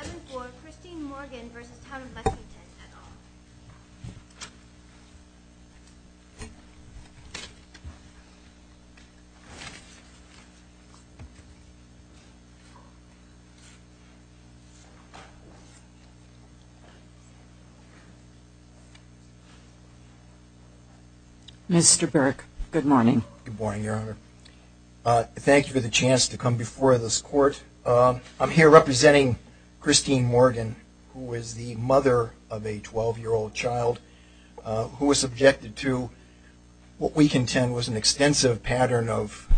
7-4 Christine Morgan v. Town of Lexington et al. Mr. Burke, good morning. Good morning, Your Honor. Thank you for the chance to come before this court. I'm here representing Christine Morgan, who was the mother of a 12-year-old child who was subjected to what we contend was an extensive pattern of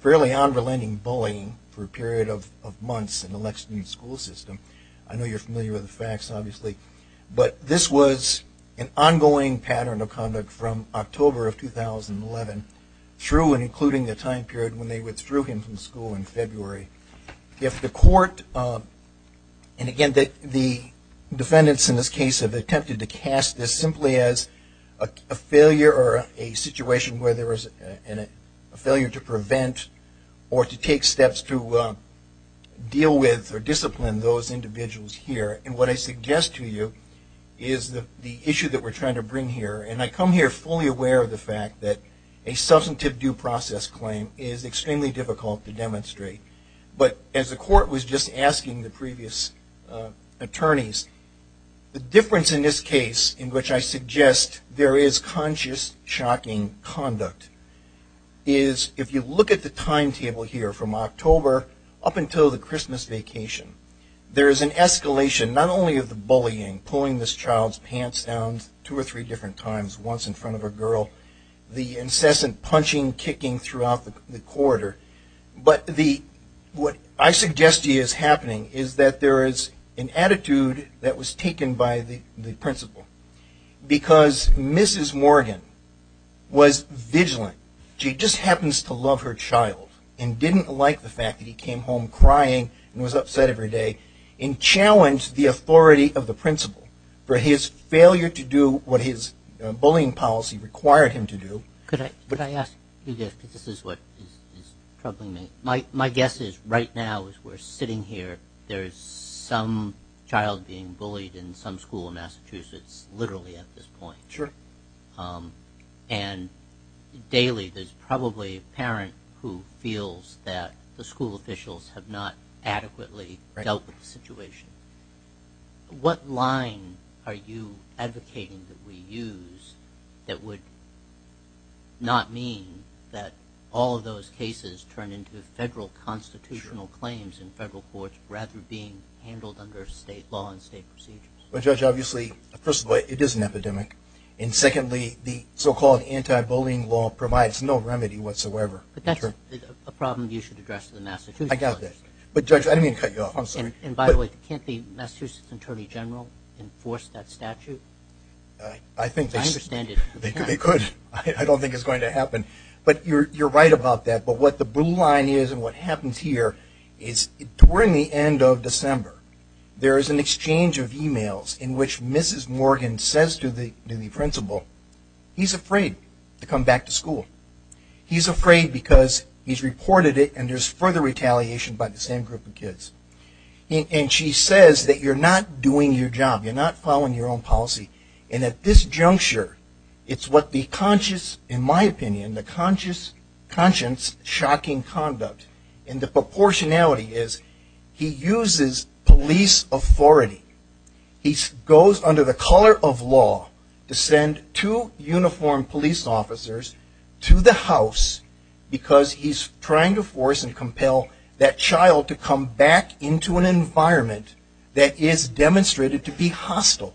fairly unrelenting bullying for a period of months in the Lexington school system. I know you're familiar with the facts, obviously, but this was an ongoing pattern of conduct from October of 2011 through and including the time period when they withdrew him from school in February. If the court, and again, the defendants in this case have attempted to cast this simply as a failure or a situation where there was a failure to prevent or to take steps to deal with or discipline those individuals here. And what I suggest to you is the issue that we're trying to bring here, and I come here fully aware of the fact that a substantive due process claim is extremely difficult to demonstrate. But as the court was just asking the previous attorneys, the difference in this case in which I suggest there is conscious shocking conduct is if you look at the timetable here from October up until the Christmas vacation, there is an escalation not only of the bullying, pulling this child's pants down two or three different times once in front of a girl, the incessant punching, kicking throughout the corridor, but what I suggest to you is happening is that there is an attitude that was taken by the principal because Mrs. Morgan was vigilant. She just happens to love her child and didn't like the fact that he came home crying and was upset every day and challenged the authority of the principal for his failure to do what his bullying policy required him to do. Could I ask you this because this is what is troubling me? My guess is right now as we're sitting here, there is some child being bullied in some school in Massachusetts literally at this point. Sure. And daily there's probably a parent who feels that the school officials have not adequately dealt with the situation. What line are you advocating that we use that would not mean that all of those cases turn into federal constitutional claims in federal courts rather than being handled under state law and state procedures? Well, Judge, obviously, first of all, it is an epidemic, and secondly, the so-called anti-bullying law provides no remedy whatsoever. But that's a problem you should address to the Massachusetts judges. I got that. But, Judge, I didn't mean to cut you off. I'm sorry. And, by the way, can't the Massachusetts Attorney General enforce that statute? I think they could. I don't think it's going to happen. But you're right about that. But what the blue line is and what happens here is during the end of December, there is an exchange of e-mails in which Mrs. Morgan says to the principal, he's afraid to come back to school. He's afraid because he's reported it and there's further retaliation by the same group of kids. And she says that you're not doing your job. You're not following your own policy. And at this juncture, it's what the conscious, in my opinion, the conscious, conscience, shocking conduct. And the proportionality is he uses police authority. He goes under the color of law to send two uniformed police officers to the house because he's trying to force and compel that child to come back into an environment that is demonstrated to be hostile,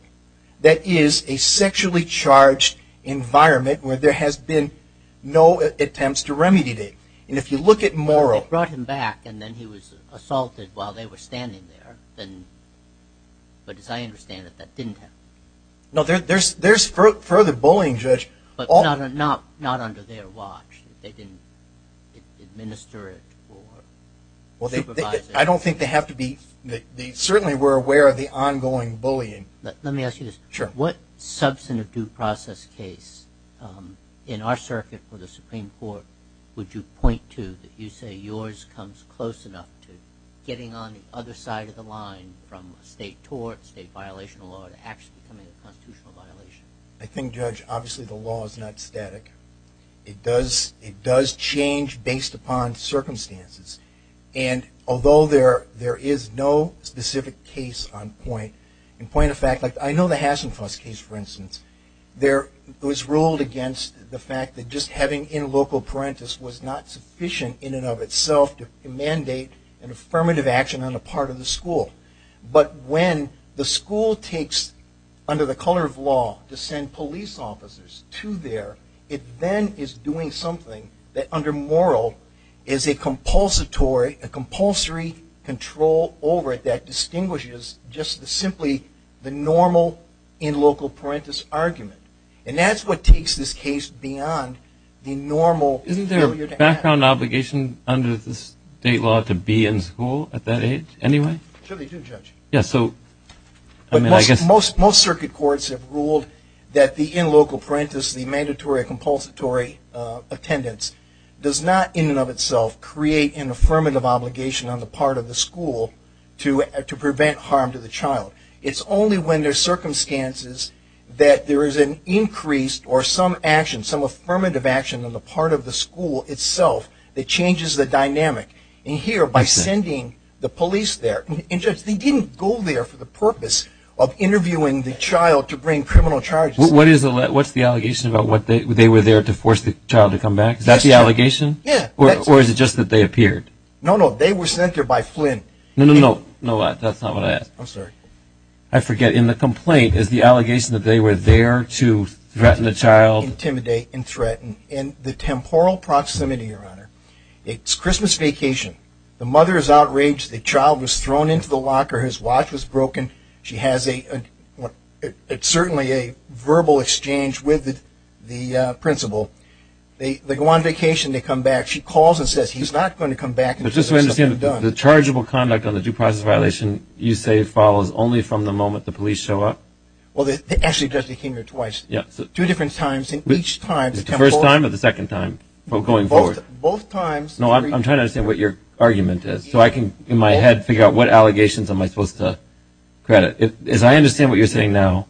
that is a sexually charged environment where there has been no attempts to remediate it. And if you look at Morrow. They brought him back and then he was assaulted while they were standing there. But as I understand it, that didn't happen. No, there's further bullying, Judge. But not under their watch. They didn't administer it or supervise it. I don't think they have to be. Certainly we're aware of the ongoing bullying. Let me ask you this. Sure. What substantive due process case in our circuit for the Supreme Court would you point to that you say yours comes close enough to getting on the other side of the line from a state tort, state violation of law, to actually becoming a constitutional violation? I think, Judge, obviously the law is not static. It does change based upon circumstances. And although there is no specific case on point, in point of fact, I know the Hassenfuss case, for instance. It was ruled against the fact that just having in loco parentis was not sufficient in and of itself to mandate an affirmative action on the part of the school. But when the school takes under the color of law to send police officers to there, it then is doing something that under moral is a compulsory control over it that distinguishes just simply the normal in loco parentis argument. And that's what takes this case beyond the normal failure to act. Isn't there a background obligation under the state law to be in school at that age anyway? Sure they do, Judge. Most circuit courts have ruled that the in loco parentis, the mandatory compulsory attendance, does not in and of itself create an affirmative obligation on the part of the school to prevent harm to the child. It's only when there are circumstances that there is an increased or some action, some affirmative action on the part of the school itself that changes the dynamic. And here, by sending the police there, they didn't go there for the purpose of interviewing the child to bring criminal charges. What's the allegation about they were there to force the child to come back? Is that the allegation? Yeah. Or is it just that they appeared? No, no. They were sent there by Flynn. No, no, no. That's not what I asked. I'm sorry. I forget. And the complaint is the allegation that they were there to threaten the child. Intimidate and threaten in the temporal proximity, Your Honor. It's Christmas vacation. The mother is outraged. The child was thrown into the locker. His watch was broken. She has a – it's certainly a verbal exchange with the principal. They go on vacation. They come back. She calls and says he's not going to come back until there's something done. But just so I understand, the chargeable conduct on the due process violation, you say it follows only from the moment the police show up? Well, they actually just became there twice. Yeah. Two different times and each time. The first time or the second time going forward? Both times. No, I'm trying to understand what your argument is so I can, in my head, figure out what allegations am I supposed to credit. As I understand what you're saying now,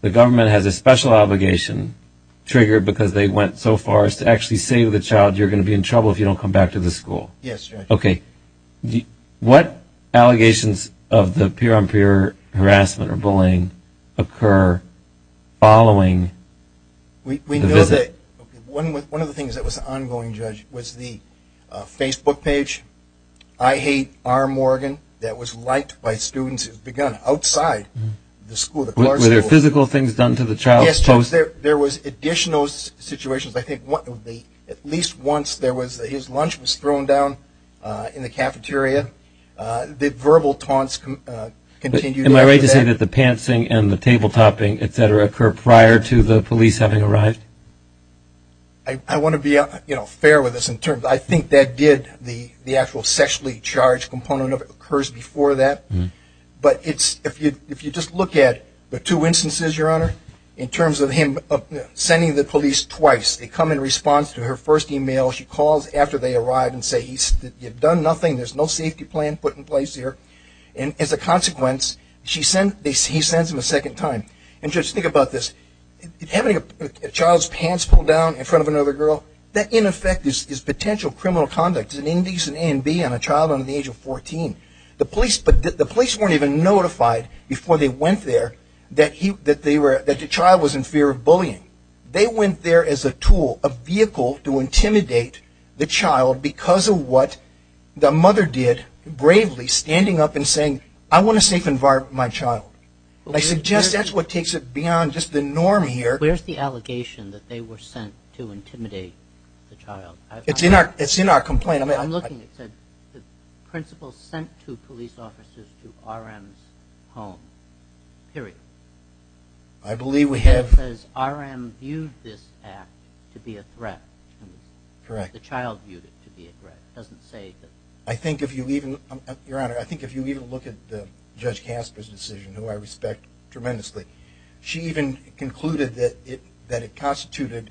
the government has a special obligation triggered because they went so far as to actually say to the child, you're going to be in trouble if you don't come back to the school. Yes, Your Honor. Okay. What allegations of the peer-on-peer harassment or bullying occur following the visit? One of the things that was ongoing, Judge, was the Facebook page, I Hate R. Morgan, that was liked by students outside the school. Were there physical things done to the child? Yes, Judge. There was additional situations. I think at least once his lunch was thrown down in the cafeteria. The verbal taunts continued. I want to be fair with this in terms, I think that did the actual sexually charged component of it occurs before that. But if you just look at the two instances, Your Honor, in terms of him sending the police twice, they come in response to her first email. She calls after they arrive and says, you've done nothing, there's no safety plan put in place here. And as a consequence, he sends them a second time. And, Judge, think about this. Having a child's pants pulled down in front of another girl, that, in effect, is potential criminal conduct. An indecent A and B on a child under the age of 14. The police weren't even notified before they went there that the child was in fear of bullying. They went there as a tool, a vehicle, to intimidate the child because of what the mother did, I suggest that's what takes it beyond just the norm here. Where's the allegation that they were sent to intimidate the child? It's in our complaint. I'm looking. It said the principal sent two police officers to R.M.'s home. Period. I believe we have. It says R.M. viewed this act to be a threat. Correct. The child viewed it to be a threat. It doesn't say that. I think if you even, Your Honor, I think if you even look at Judge Casper's decision, who I respect tremendously, she even concluded that it constituted,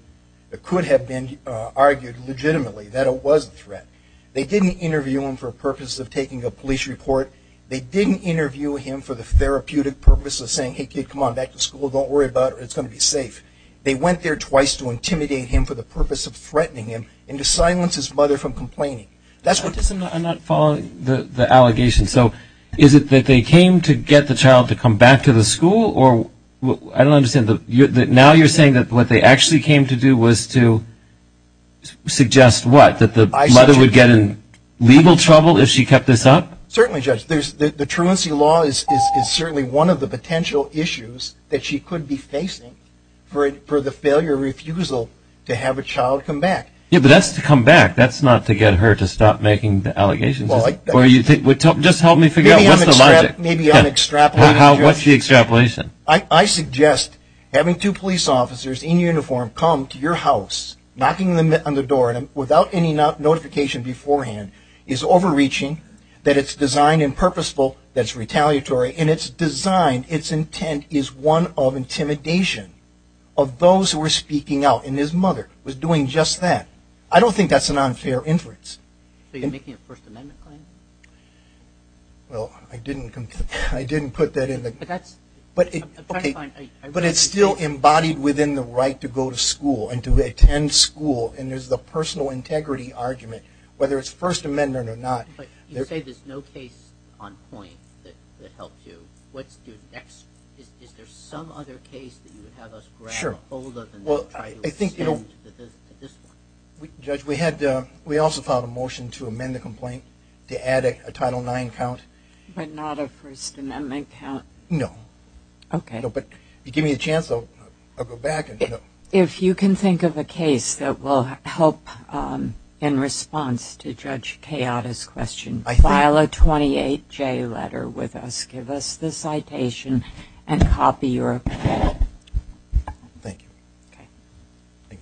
it could have been argued legitimately that it was a threat. They didn't interview him for a purpose of taking a police report. They didn't interview him for the therapeutic purpose of saying, hey, kid, come on, back to school, don't worry about it, it's going to be safe. They went there twice to intimidate him for the purpose of threatening him and to silence his mother from complaining. I'm not following the allegation. So is it that they came to get the child to come back to the school? I don't understand. Now you're saying that what they actually came to do was to suggest what, that the mother would get in legal trouble if she kept this up? Certainly, Judge. The truancy law is certainly one of the potential issues that she could be facing for the failure refusal to have a child come back. Yeah, but that's to come back. That's not to get her to stop making the allegations. Just help me figure out what's the logic. Maybe I'm extrapolating. What's the extrapolation? I suggest having two police officers in uniform come to your house, knocking on the door without any notification beforehand is overreaching, that it's designed and purposeful, that it's retaliatory, and it's designed, its intent is one of intimidation of those who are speaking out, and his mother was doing just that. I don't think that's an unfair inference. So you're making a First Amendment claim? Well, I didn't put that in the – But that's – Okay, but it's still embodied within the right to go to school and to attend school, and there's the personal integrity argument, whether it's First Amendment or not. But you say there's no case on point that helped you. What's your next – is there some other case that you would have us grab Well, I think – Judge, we also filed a motion to amend the complaint, to add a Title IX count. But not a First Amendment count? No. Okay. No, but give me a chance, I'll go back and – If you can think of a case that will help in response to Judge Kayada's question, file a 28-J letter with us, give us the citation, and copy your opinion. Thank you. Okay. Thank you,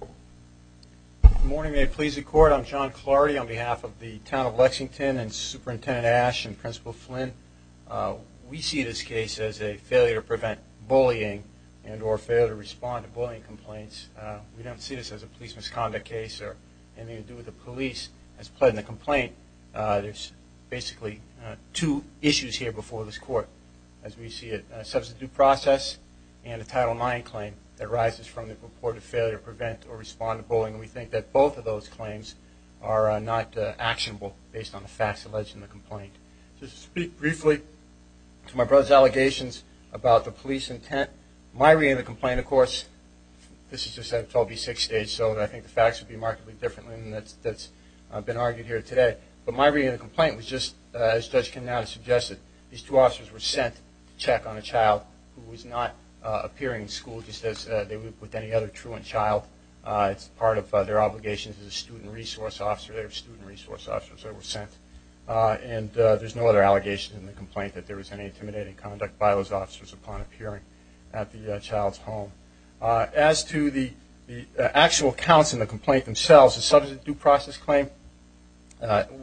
Judge. Good morning, may it please the Court. I'm John Clardy on behalf of the Town of Lexington and Superintendent Ash and Principal Flynn. We see this case as a failure to prevent bullying and or failure to respond to bullying complaints. We don't see this as a police misconduct case or anything to do with the police as pled in the complaint. There's basically two issues here before this Court, as we see a substitute process and a Title IX claim that arises from the reported failure to prevent or respond to bullying. And we think that both of those claims are not actionable based on the facts alleged in the complaint. Just to speak briefly to my brother's allegations about the police intent, my reading of the complaint, of course, this is just a 12B6 stage, so I think the facts would be markedly different than that's been argued here today. But my reading of the complaint was just, as Judge Kayada suggested, these two officers were sent to check on a child who was not appearing in school just as they would with any other truant child. It's part of their obligations as a student resource officer. They were student resource officers. They were sent. And there's no other allegations in the complaint that there was any intimidating conduct by those officers upon appearing at the child's home. As to the actual counts in the complaint themselves, the substitute process claim,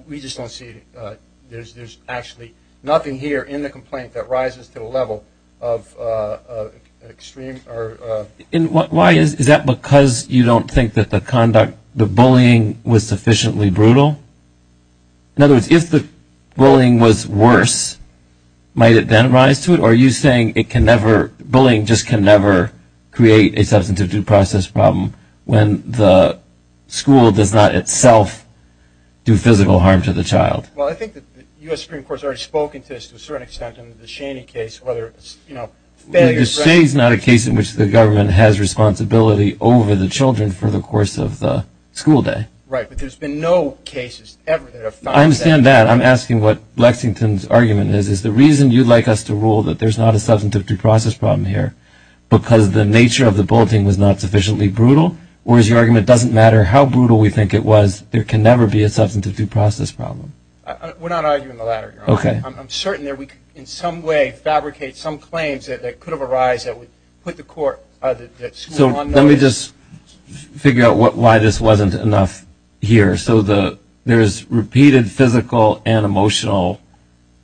we just don't see it. There's actually nothing here in the complaint that rises to the level of extreme. Why is that? Is that because you don't think that the conduct, the bullying, was sufficiently brutal? In other words, if the bullying was worse, might it then rise to it? Or are you saying it can never – bullying just can never create a substantive due process problem when the school does not itself do physical harm to the child? Well, I think the U.S. Supreme Court has already spoken to this to a certain extent in the DeShaney case, whether it's, you know, failure – DeShaney is not a case in which the government has responsibility over the children for the course of the school day. Right, but there's been no cases ever that have found that. I understand that. I'm asking what Lexington's argument is. Is the reason you'd like us to rule that there's not a substantive due process problem here because the nature of the bulleting was not sufficiently brutal? Or is your argument it doesn't matter how brutal we think it was, there can never be a substantive due process problem? We're not arguing the latter, Your Honor. Okay. I'm certain that we could in some way fabricate some claims that could have arised that would put the school on notice. Let me just figure out why this wasn't enough here. So there's repeated physical and emotional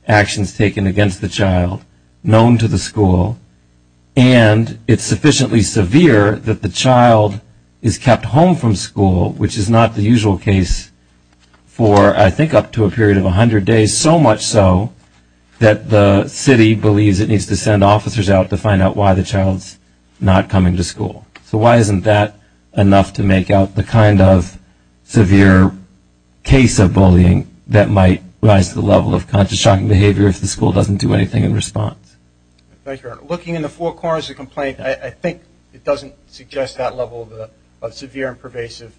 actions taken against the child known to the school, and it's sufficiently severe that the child is kept home from school, which is not the usual case for, I think, up to a period of 100 days, so much so that the city believes it needs to send officers out to find out why the child's not coming to school. So why isn't that enough to make out the kind of severe case of bullying that might rise to the level of conscious shocking behavior if the school doesn't do anything in response? Thank you, Your Honor. Looking in the four corners of the complaint, I think it doesn't suggest that level of severe and pervasive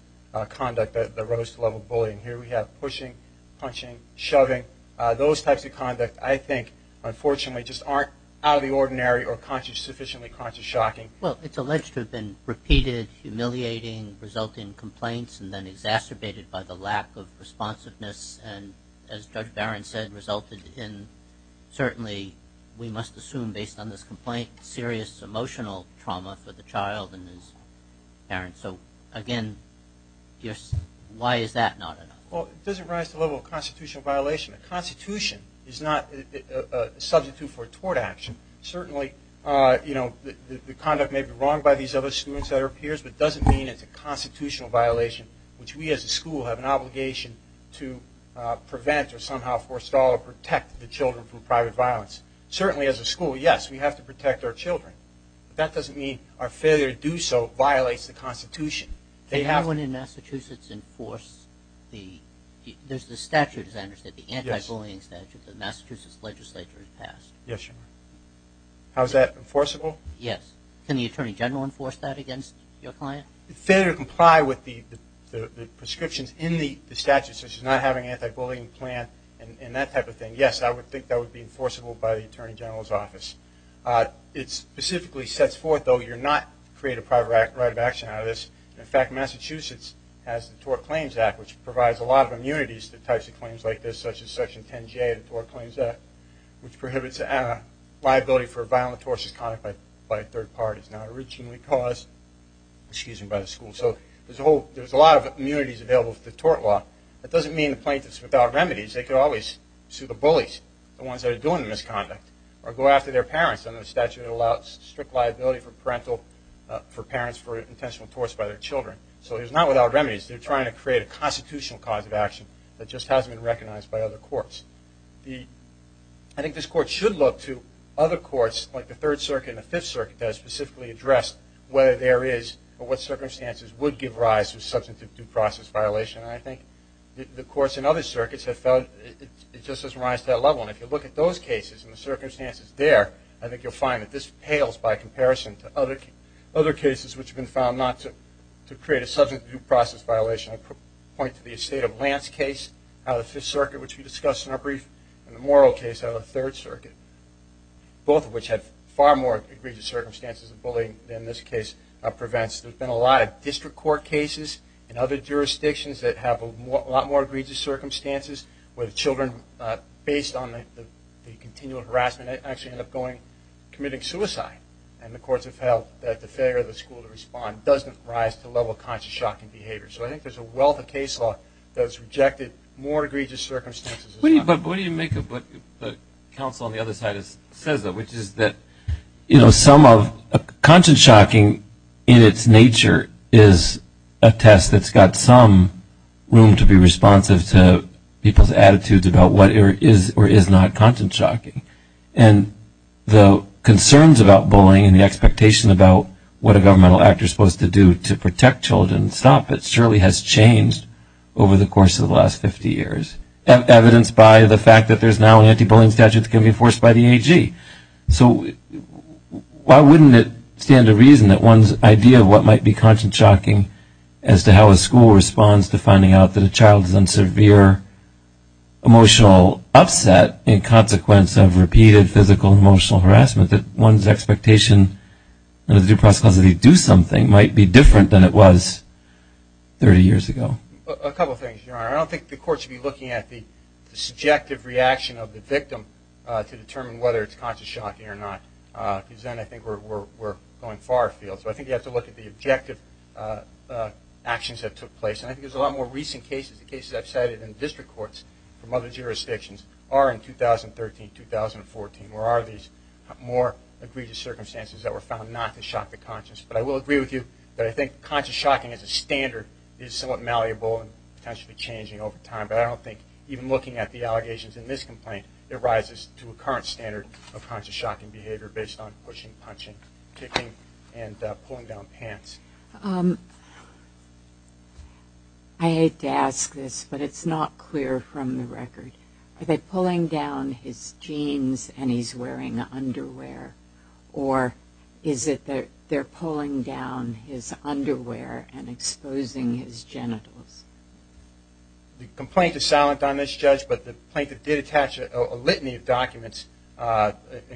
conduct that rose to the level of bullying. Here we have pushing, punching, shoving. Those types of conduct, I think, unfortunately, just aren't out of the ordinary or sufficiently conscious shocking. Well, it's alleged to have been repeated, humiliating, resulting in complaints, and then exacerbated by the lack of responsiveness and, as Judge Barron said, resulted in certainly, we must assume based on this complaint, serious emotional trauma for the child and his parents. So, again, why is that not enough? Well, it doesn't rise to the level of constitutional violation. A constitution is not a substitute for a tort action. Certainly, you know, the conduct may be wrong by these other students that are peers, but it doesn't mean it's a constitutional violation, which we as a school have an obligation to prevent or somehow, forestall or protect the children from private violence. Certainly, as a school, yes, we have to protect our children. But that doesn't mean our failure to do so violates the Constitution. Anyone in Massachusetts enforce the statute, as I understand it, the anti-bullying statute, that the Massachusetts legislature has passed? Yes, Your Honor. How is that enforceable? Yes. Can the Attorney General enforce that against your client? Failure to comply with the prescriptions in the statute, such as not having an anti-bullying plan and that type of thing, yes, I would think that would be enforceable by the Attorney General's office. It specifically sets forth, though, you're not to create a private right of action out of this. In fact, Massachusetts has the Tort Claims Act, which provides a lot of immunities to types of claims like this, such as Section 10J of the Tort Claims Act, which prohibits liability for violent tortious conduct by third parties, not originally caused by the school. So there's a lot of immunities available to the tort law. That doesn't mean the plaintiff's without remedies. They could always sue the bullies, the ones that are doing the misconduct, or go after their parents under the statute that allows strict liability for parental, for parents for intentional torts by their children. So he's not without remedies. They're trying to create a constitutional cause of action that just hasn't been recognized by other courts. I think this Court should look to other courts, like the Third Circuit and the Fifth Circuit, that specifically address whether there is or what circumstances would give rise to substantive due process violation. And I think the courts in other circuits have felt it just doesn't rise to that level. And if you look at those cases and the circumstances there, I think you'll find that this pales by comparison to other cases which have been found not to create a substantive due process violation. I point to the estate of Lance case out of the Fifth Circuit, which we discussed in our brief, and the Morrill case out of the Third Circuit, both of which have far more egregious circumstances of bullying than this case prevents. There's been a lot of district court cases in other jurisdictions that have a lot more egregious circumstances where the children, based on the continual harassment, actually end up committing suicide. And the courts have felt that the failure of the school to respond doesn't rise to the level of conscience-shocking behavior. So I think there's a wealth of case law that has rejected more egregious circumstances. But what do you make of what the counsel on the other side says, which is that some of the conscience-shocking in its nature is a test that's got some room to be responsive to people's attitudes about what is or is not conscience-shocking. And the concerns about bullying and the expectation about what a governmental actor is supposed to do to protect children stop. It surely has changed over the course of the last 50 years, evidenced by the fact that there's now an anti-bullying statute that can be enforced by the AG. So why wouldn't it stand to reason that one's idea of what might be conscience-shocking as to how a school responds to finding out that a child is in severe emotional upset in consequence of repeated physical and emotional harassment, that one's expectation of the due process of how they do something might be different than it was 30 years ago? A couple of things, Your Honor. I don't think the courts should be looking at the subjective reaction of the victim to determine whether it's conscience-shocking or not, because then I think we're going far afield. So I think you have to look at the objective actions that took place. And I think there's a lot more recent cases, the cases I've cited in district courts from other jurisdictions are in 2013, 2014, where there are these more egregious circumstances that were found not to shock the conscience. But I will agree with you that I think conscience-shocking as a standard is somewhat malleable and potentially changing over time. But I don't think even looking at the allegations in this complaint, it rises to a current standard of conscience-shocking behavior based on pushing, punching, kicking, and pulling down pants. I hate to ask this, but it's not clear from the record. Are they pulling down his jeans and he's wearing underwear, or is it they're pulling down his underwear and exposing his genitals? The complaint is silent on this, Judge, but the plaintiff did attach a litany of documents,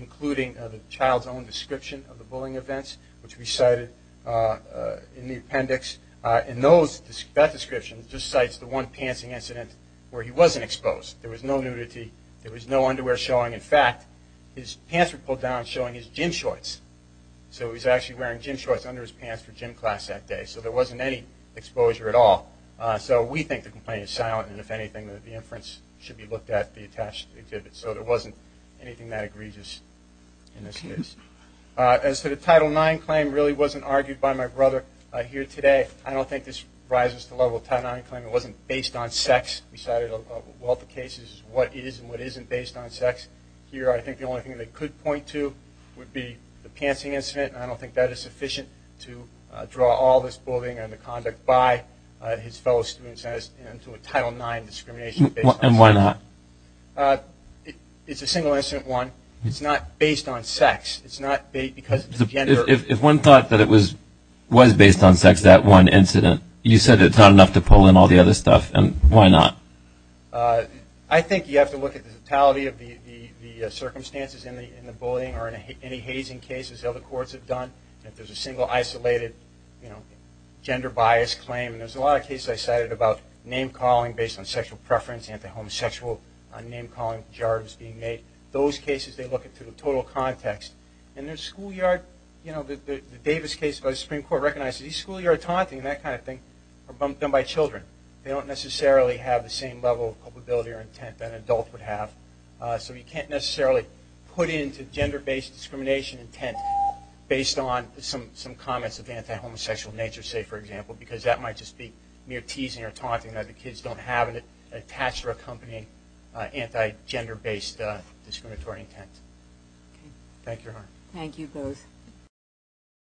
including the child's own description of the bullying events, which we cited in the appendix. And that description just cites the one pantsing incident where he wasn't exposed. There was no nudity. There was no underwear showing. In fact, his pants were pulled down showing his gym shorts. So he was actually wearing gym shorts under his pants for gym class that day. So there wasn't any exposure at all. So we think the complaint is silent, and if anything the inference should be looked at, be attached to the exhibit. So there wasn't anything that egregious in this case. As to the Title IX claim, it really wasn't argued by my brother here today. I don't think this rises to the level of a Title IX claim. It wasn't based on sex. We cited a wealth of cases what is and what isn't based on sex. Here I think the only thing they could point to would be the pantsing incident, and I don't think that is sufficient to draw all this bullying and the conduct by his fellow students into a Title IX discrimination based on sex. And why not? It's a single incident, one. It's not based on sex. It's not because of the gender. If one thought that it was based on sex, that one incident, you said it's not enough to pull in all the other stuff, and why not? I think you have to look at the totality of the circumstances in the bullying or in any hazing cases that other courts have done. If there's a single isolated gender bias claim, and there's a lot of cases I cited about name-calling based on sexual preference and the homosexual name-calling pejoratives being made. Those cases they look at through the total context. In their schoolyard, the Davis case, the Supreme Court recognized that these schoolyard taunting and that kind of thing are done by children. They don't necessarily have the same level of culpability or intent that an adult would have. So you can't necessarily put into gender-based discrimination intent based on some comments of anti-homosexual nature, say, for example, because that might just be mere teasing or taunting that the kids don't have attached or accompanying anti-gender-based discriminatory intent. Thank you. Thank you both.